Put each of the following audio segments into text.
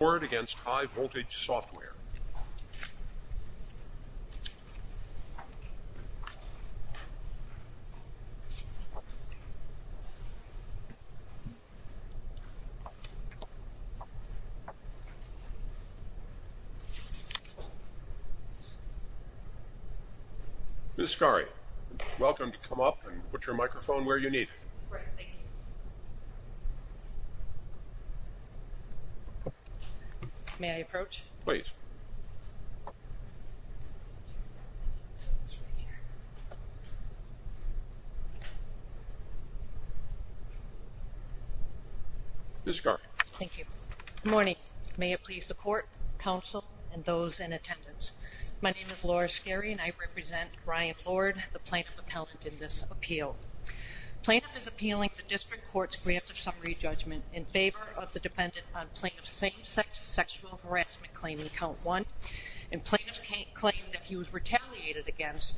Lord v. High Voltage Software Ms. Scaria, welcome to come up and put your microphone where you need it. May I approach? Please. Ms. Scaria. Thank you. Good morning. May it please the Court, Council, and those in attendance. My name is Laura Scaria and I represent Brian Lord, the plaintiff appellant in this appeal. Plaintiff is appealing the District Court's grant of summary judgment in favor of the defendant on plaintiff's second sexual harassment claim in count one. And plaintiff claimed that he was retaliated against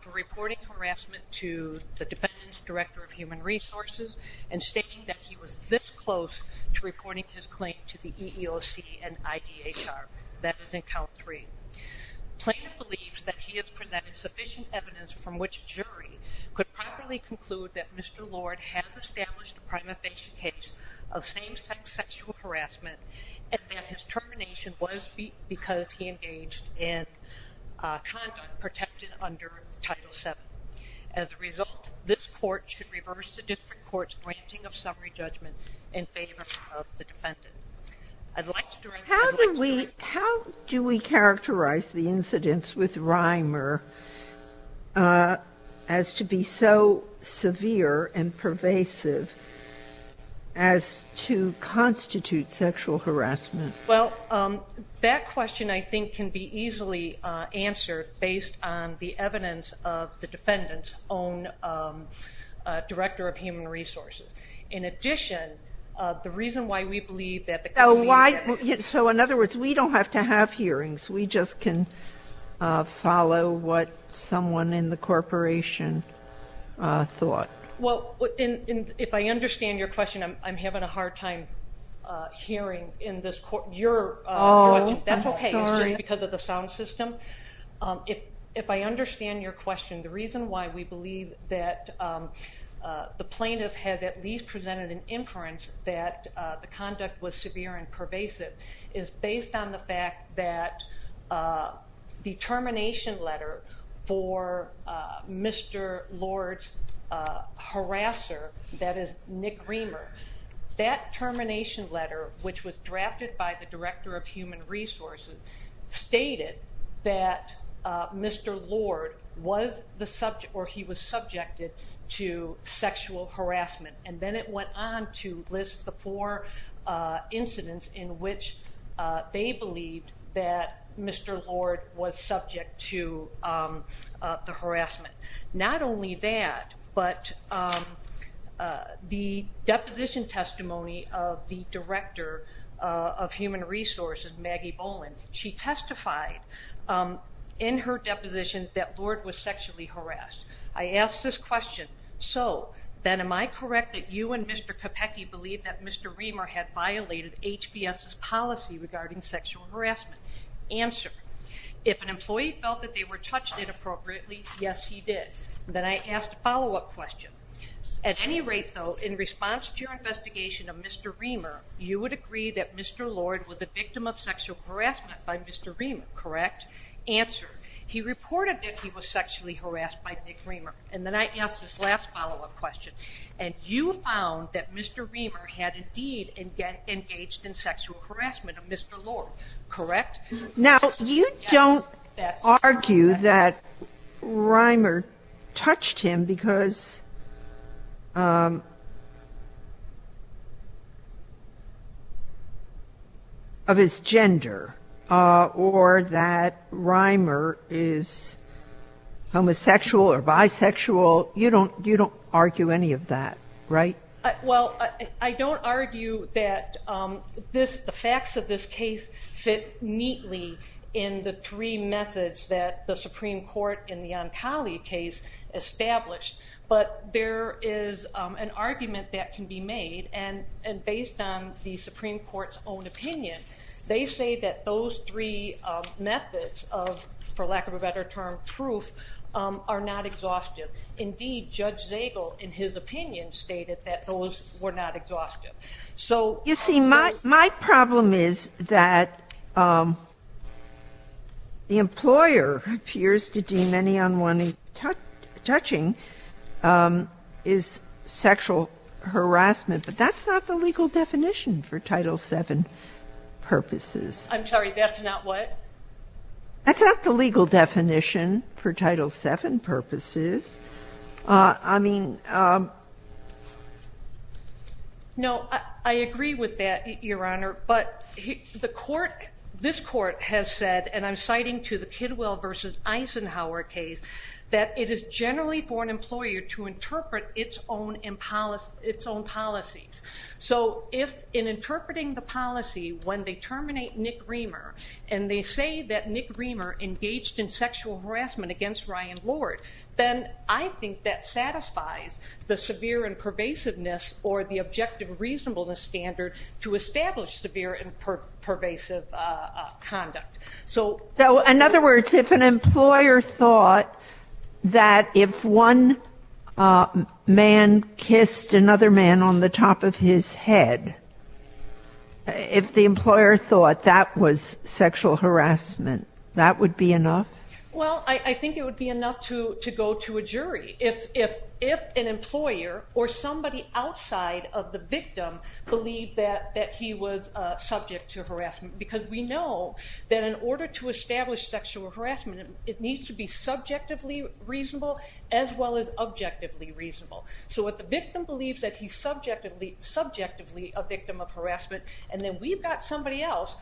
for reporting harassment to the Defendant's Director of Human Resources and stating that he was this close to reporting his claim to the EEOC and IDHR. That is in count three. Plaintiff believes that he has presented sufficient evidence from which a jury could properly conclude that Mr. Rimer was a victim of a patient case of same-sex sexual harassment and that his termination was because he engaged in conduct protected under Title VII. As a result, this Court should reverse the District Court's granting of summary judgment in favor of the defendant. How do we characterize the incidents with Rimer as to be so severe and pervasive that as to constitute sexual harassment? Well, that question, I think, can be easily answered based on the evidence of the Defendant's own Director of Human Resources. In addition, the reason why we believe that the claimant... So why, so in other words, we don't have to have hearings. We just can follow what someone in the corporation thought. Well, if I understand your question, I'm having a hard time hearing your question. That's okay. It's just because of the sound system. If I understand your question, the reason why we believe that the plaintiff had at least presented an inference that the conduct was severe and pervasive is based on the fact that the termination letter for Mr. Lord's harasser, that is Nick Rimer, that termination letter, which was drafted by the Director of Human Resources, stated that Mr. Lord was the subject, or he was subjected to sexual harassment. And then it went on to list the four incidents in which they believed that Mr. Lord was subject to the harassment. Not only that, but the deposition testimony of the Director of Human Resources, Maggie Boland, she testified in her deposition that Lord was sexually harassed. I ask this question, so then am I correct that you and Mr. Capecchi believe that Mr. Rimer had violated HBS's policy regarding sexual harassment? Answer. If an employee felt that they were touched inappropriately, yes, he did. Then I ask a follow-up question. At any rate, though, in response to your investigation of Mr. Rimer, you would agree that Mr. Lord was the victim of sexual harassment by Mr. Rimer, correct? Answer. He reported that he was sexually harassed by Nick Rimer. And then I ask this last follow-up question. And you found that Mr. Rimer had indeed engaged in sexual harassment of Mr. Lord, correct? Answer. Now, you don't argue that Rimer touched him because of his gender or that Rimer is homosexual or bisexual, you don't argue any of that, right? Answer. Well, I don't argue that the facts of this case fit neatly in the three methods that the Supreme Court in the Ancali case established, but there is an argument that can be made, and based on the Supreme Court's own opinion, they say that those three methods of, for lack of a better term, proof, are not exhaustive. Indeed, Judge Zagel, in his opinion, stated that those were not exhaustive. So you see, my problem is that the employer appears to deem any unwanted touching as sexual harassment, but that's not the legal definition for Title VII purposes. I'm sorry, that's not what? That's not the legal definition for Title VII purposes. I mean... No, I agree with that, Your Honor, but the court, this court has said, and I'm citing to the Kidwell v. Eisenhower case, that it is generally for an employer to interpret its own policies. So if, in interpreting the policy, when they terminate Nick Reamer, and they say that Nick Reamer engaged in sexual harassment against Ryan Lord, then I think that satisfies the severe and pervasiveness or the objective reasonableness standard to establish severe and pervasive conduct. So in other words, if an employer thought that if one man kissed another man on the top of his head, if the employer thought that was sexual harassment, that would be enough? Well, I think it would be enough to go to a jury. If an employer or somebody outside of the victim believed that he was subject to harassment, because we know that in order to establish sexual harassment, it needs to be subjectively reasonable as well as objectively reasonable. So if the victim believes that he's subjectively a victim of harassment, and then we've got somebody else,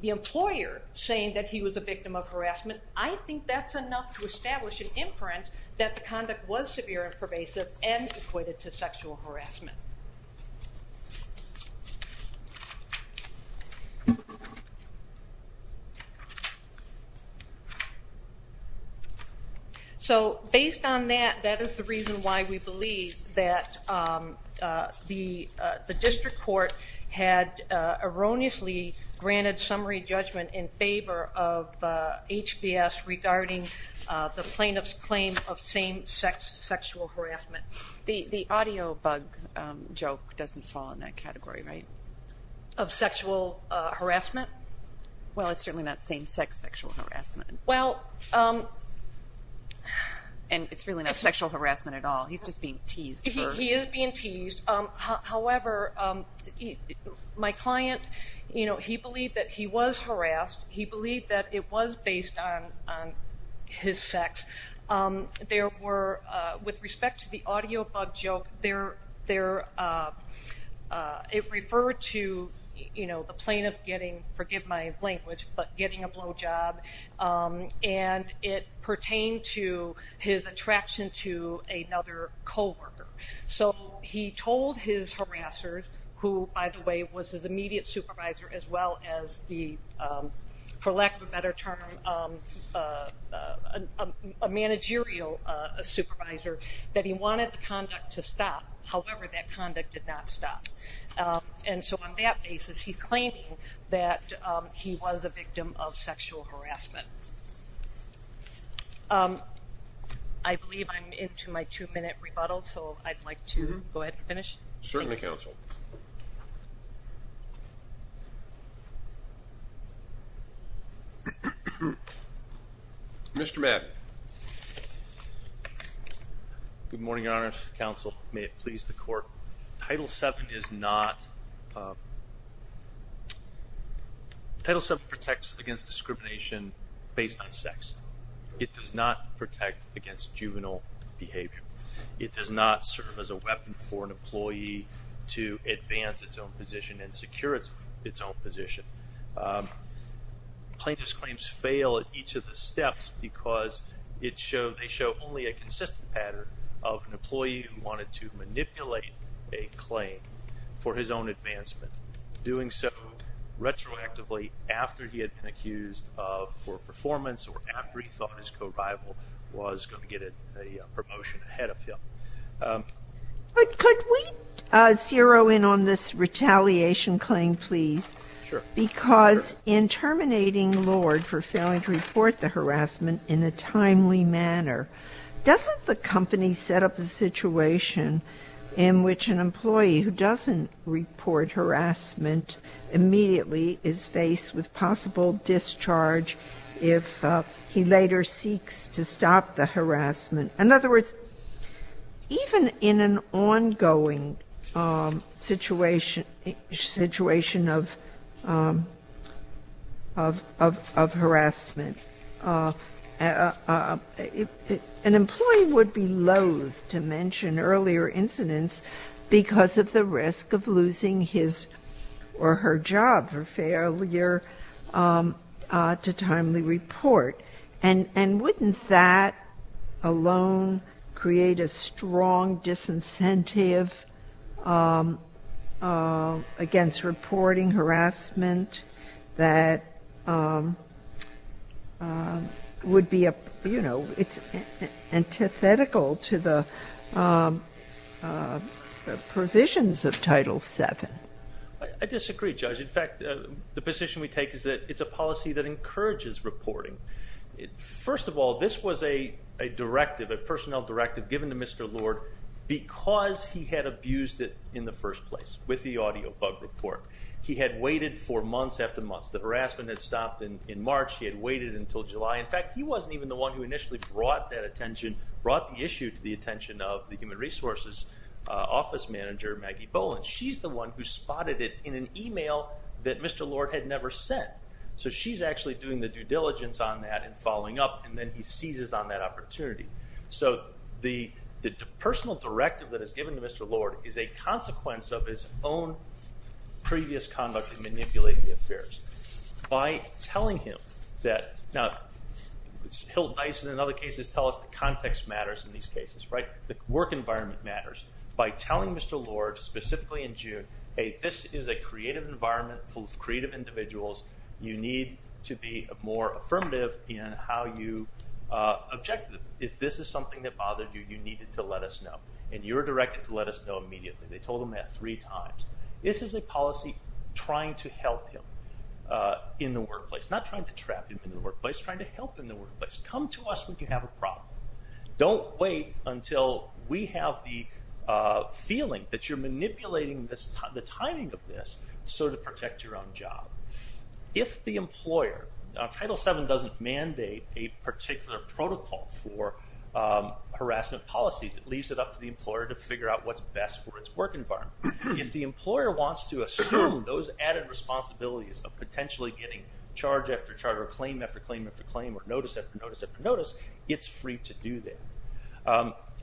the employer, saying that he was a victim of harassment, I think that's enough to establish an inference that the conduct was severe and pervasive and equated to sexual harassment. So based on that, that is the reason why we believe that the district court had erroneously granted summary judgment in favor of HBS regarding the plaintiff's claim of same-sex sexual harassment. The audio bug joke doesn't fall in that category, right? Of sexual harassment? Well, it's certainly not same-sex sexual harassment. And it's really not sexual harassment at all. He's just being teased. He is being teased. However, my client, he believed that he was harassed. He believed that it was based on his sex. With respect to the audio bug joke, it referred to the plaintiff getting, forgive my language, but getting a blow job, and it pertained to his attraction to another coworker. So he told his harassers, who, by the way, was his immediate supervisor, as well as the, for lack of a better term, a managerial supervisor, that he wanted the conduct to stop. However, that conduct did not stop. And so on that basis, he's claiming that he was a victim of sexual harassment. I believe I'm into my two-minute rebuttal, so I'd like to go ahead and finish. Certainly, counsel. Mr. Madden. Good morning, Your Honor. Counsel, may it please the court. Title VII is not... Title VII protects against discrimination based on sex. It does not protect against juvenile behavior. It does not serve as a weapon for an employee to advance its own position and secure its own position. Plaintiff's claims fail at each of the steps because they show only a consistent pattern of an employee who wanted to manipulate a claim for his own advancement. Doing so retroactively after he had been a victim of harassment. Could we zero in on this retaliation claim, please? Because in terminating Lord for failing to report the harassment in a timely manner, doesn't the company set up a situation in which an employee who doesn't report harassment immediately is faced with possible discharge if he later seeks to stop the harassment? In other words, even in an ongoing situation of harassment, an employee would be loath to mention earlier incidents because of the risk of losing his or her job for failure to timely report. And wouldn't that alone create a strong disincentive against reporting harassment that would be, you know, it's antithetical to the provisions of Title VII? I disagree, Judge. In fact, the position we take is that it's a policy that encourages reporting. First of all, this was a directive, a personnel directive given to Mr. Lord because he had abused it in the first place with the audio bug report. He had waited for months after months. The harassment had stopped in March. He had waited until July. In fact, he wasn't even the one who initially brought that attention, brought the issue to the attention of the Human Resources Office Manager, Maggie Boland. She's the one who spotted it in an email that Mr. Lord had never sent. So she's actually doing the due diligence on that and following up, and then he seizes on that opportunity. So the personal directive that is given to Mr. Lord is a consequence of his own previous conduct in manipulating the affairs. Now, Hill, Dyson, and other cases tell us that context matters in these cases, right? The work environment matters. By telling Mr. Lord, specifically in June, hey, this is a creative environment full of creative individuals. You need to be more affirmative in how you object to them. If this is something that bothered you, you needed to let us know. And you're directed to let us know immediately. They told him that three times. This is a policy trying to help him in the workplace. Not trying to trap him in the workplace, trying to help him in the workplace. Come to us when you have a problem. Don't wait until we have the feeling that you're manipulating the timing of this so to protect your own job. If the employer, Title VII doesn't mandate a particular protocol for harassment policies, it leaves it up to the employer to figure out what's best for its work environment. If the employer wants to assume those added responsibilities of potentially getting charge after charge, or claim after claim after claim, or notice after notice after notice, it's free to do that.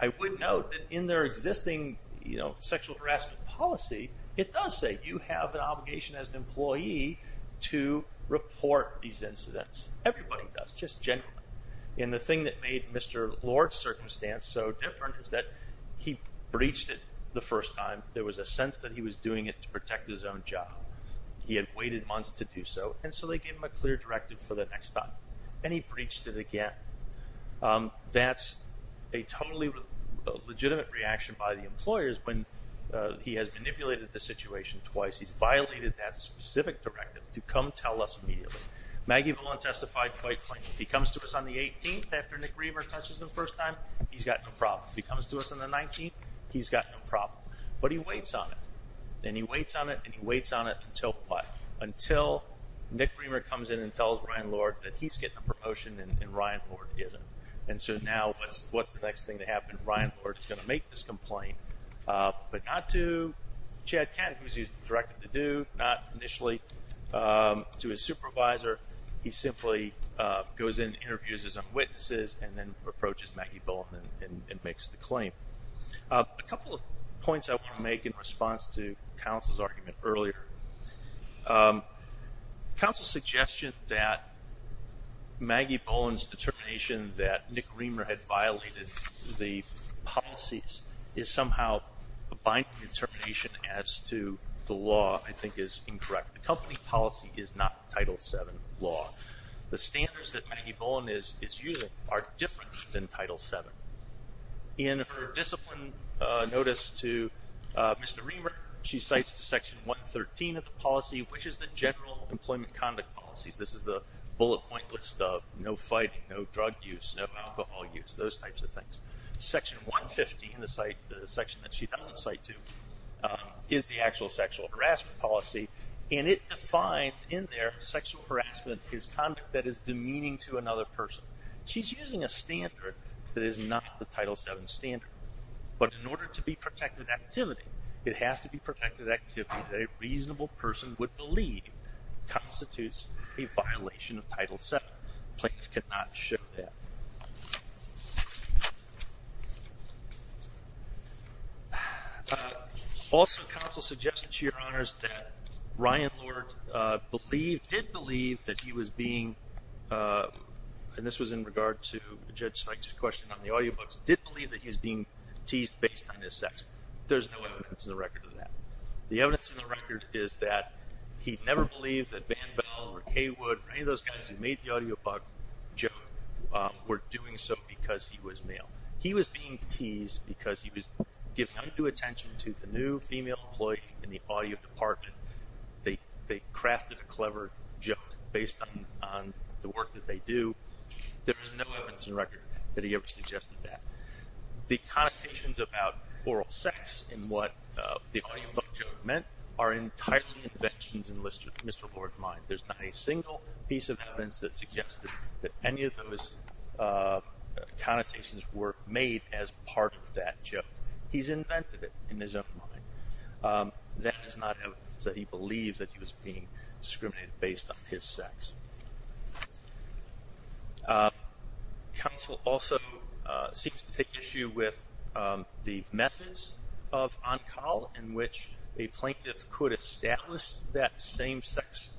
I would note that in their existing sexual harassment policy, it does say you have an obligation as an employee to report these incidents. Everybody does. Just generally. And the thing that made Mr. Lord's circumstance so different is that he breached it the first time. There was a sense that he was doing it to protect his own job. He had waited months to do so. And so they gave him a clear directive for the next time. And he breached it again. That's a totally legitimate reaction by the employers when he has manipulated the situation twice. He's violated that specific directive to come tell us immediately. Maggie Villon testified quite plainly. If he comes to us on the 18th after Nick Reamer touches him the first time, he's got no problem. If he comes to us on the 19th, he's got no problem. But he waits on it. And he waits on it, and he waits on it until what? Until Nick Reamer comes in and tells Ryan Lord that he's getting a promotion and Ryan Lord is going to make this complaint. But not to Chad Catt, who he's directed to do. Not initially to his supervisor. He simply goes in, interviews his own witnesses, and then approaches Maggie Villon and makes the claim. A couple of points I want to make in response to counsel's argument earlier. Counsel's suggestion that policies is somehow a binding determination as to the law I think is incorrect. The company policy is not Title VII law. The standards that Maggie Villon is using are different than Title VII. In her discipline notice to Mr. Reamer, she cites Section 113 of the policy, which is the general employment conduct policies. This is the bullet point list of no fighting, no drug use, no alcohol use, those types of things. Section 150, the section that she doesn't cite to, is the actual sexual harassment policy. And it defines in there sexual harassment is conduct that is demeaning to another person. She's using a standard that is not the Title VII standard. But in order to be protected activity, it has to be protected activity that a plaintiff cannot show that. Also, counsel suggested to your honors that Ryan Lord did believe that he was being, and this was in regard to Judge Sykes' question on the audiobooks, did believe that he was being teased based on his sex. There's no evidence in the record of that. The evidence in the record is that he never believed that Van Bell or Cawood or any of those guys who made the audiobook joke were doing so because he was male. He was being teased because he was giving undue attention to the new female employee in the audio department. They crafted a clever joke based on the work that they do. There is no evidence in the record that he ever suggested that. The connotations about oral sex in what the audiobook joke meant are entirely inventions enlisted in Mr. Lord's mind. There's not a single piece of evidence that suggests that any of those connotations were made as part of that joke. He's invented it in his own mind. That is not evidence that he believed that he was being discriminated based on his sex. Counsel also seeks to take issue with the methods of on-call in which a plaintiff could establish that same-sex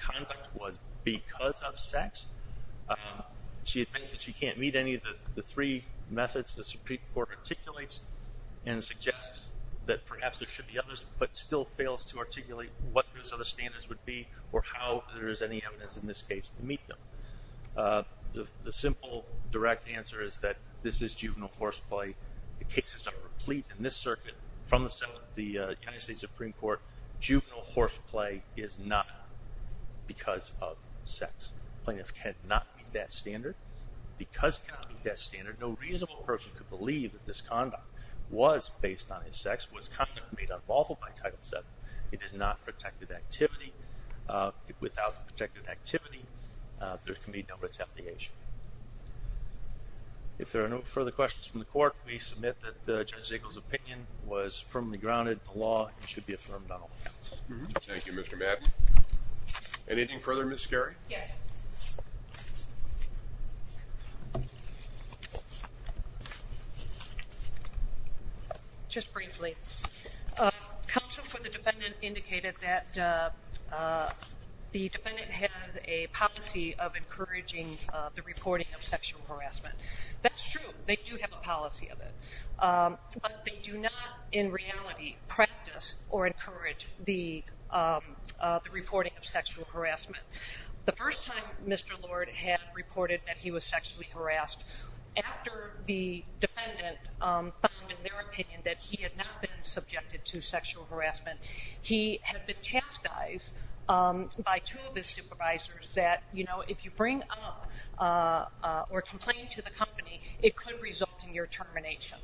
conduct was because of sex. She admits that she can't meet any of the three methods the Supreme Court articulates and suggests that perhaps there should be others but still fails to articulate what those other standards would be or how there is any evidence in this case to meet them. The simple direct answer is that this is juvenile horseplay. The cases are complete in this circuit from the United States Supreme Court. Juvenile horseplay is not because of sex. The plaintiff cannot meet that standard. Because he cannot meet that standard, no reasonable person could believe that this conduct was based on his sex, was conduct made unlawful by Title VII. It is not protected activity. Without protected activity, there can be no retaliation. If there are no further questions from the court, we submit that Judge Ziegel's opinion was firmly grounded in the law and should be affirmed on all counts. Thank you, Mr. Madden. Anything further, Ms. Gary? Yes. Just briefly, counsel for the defendant indicated that the defendant has a policy of encouraging the reporting of sexual harassment. That's true. They do have a policy of it. But they do not in reality practice or encourage the reporting of sexual harassment. The first time Mr. Lord had reported that he was sexually harassed, after the defendant found in their opinion that he had not been subjected to sexual harassment, he had been chastised by two of his supervisors that if you bring up or complain to the company, it could result in your termination.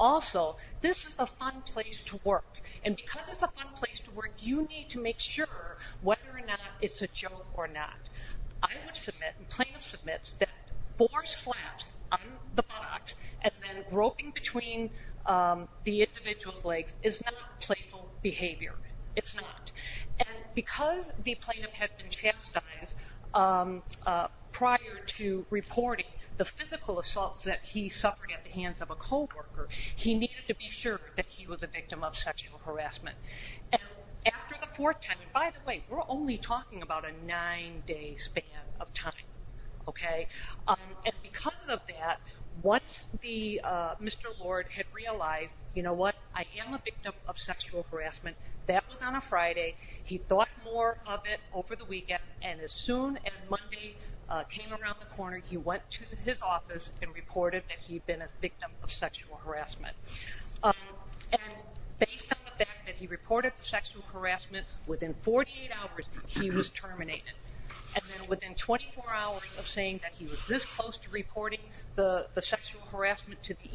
Also, this is a fun place to work. And because it's a fun place to work, you need to make sure whether or not it's a joke or not. I would submit, the plaintiff submits, that four slaps on the buttocks and then groping between the individual's legs is not playful behavior. It's not. And because the plaintiff had been chastised prior to reporting the physical assaults that he suffered at the hands of a coworker, he needed to be sure that he was a victim of sexual harassment. After the fourth time, and by the way, we're only talking about a nine day span of time. And because of that, once Mr. Lord had realized, you know what, I am a victim of sexual harassment, that was on a Friday. He thought more of it over the weekend. And as soon as Monday came around the corner, he went to his office and reported that he'd been a victim of sexual harassment. And based on the fact that he reported the sexual harassment, within 48 hours, he was terminated. And then within 24 hours of saying that he was this close to reporting the sexual harassment to the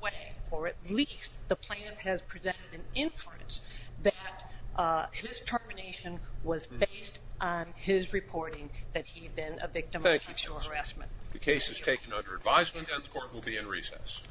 way, or at least the plaintiff has presented an inference that his termination was based on his reporting that he'd been a victim of sexual harassment. The case is taken under advisement and the court will be in recess.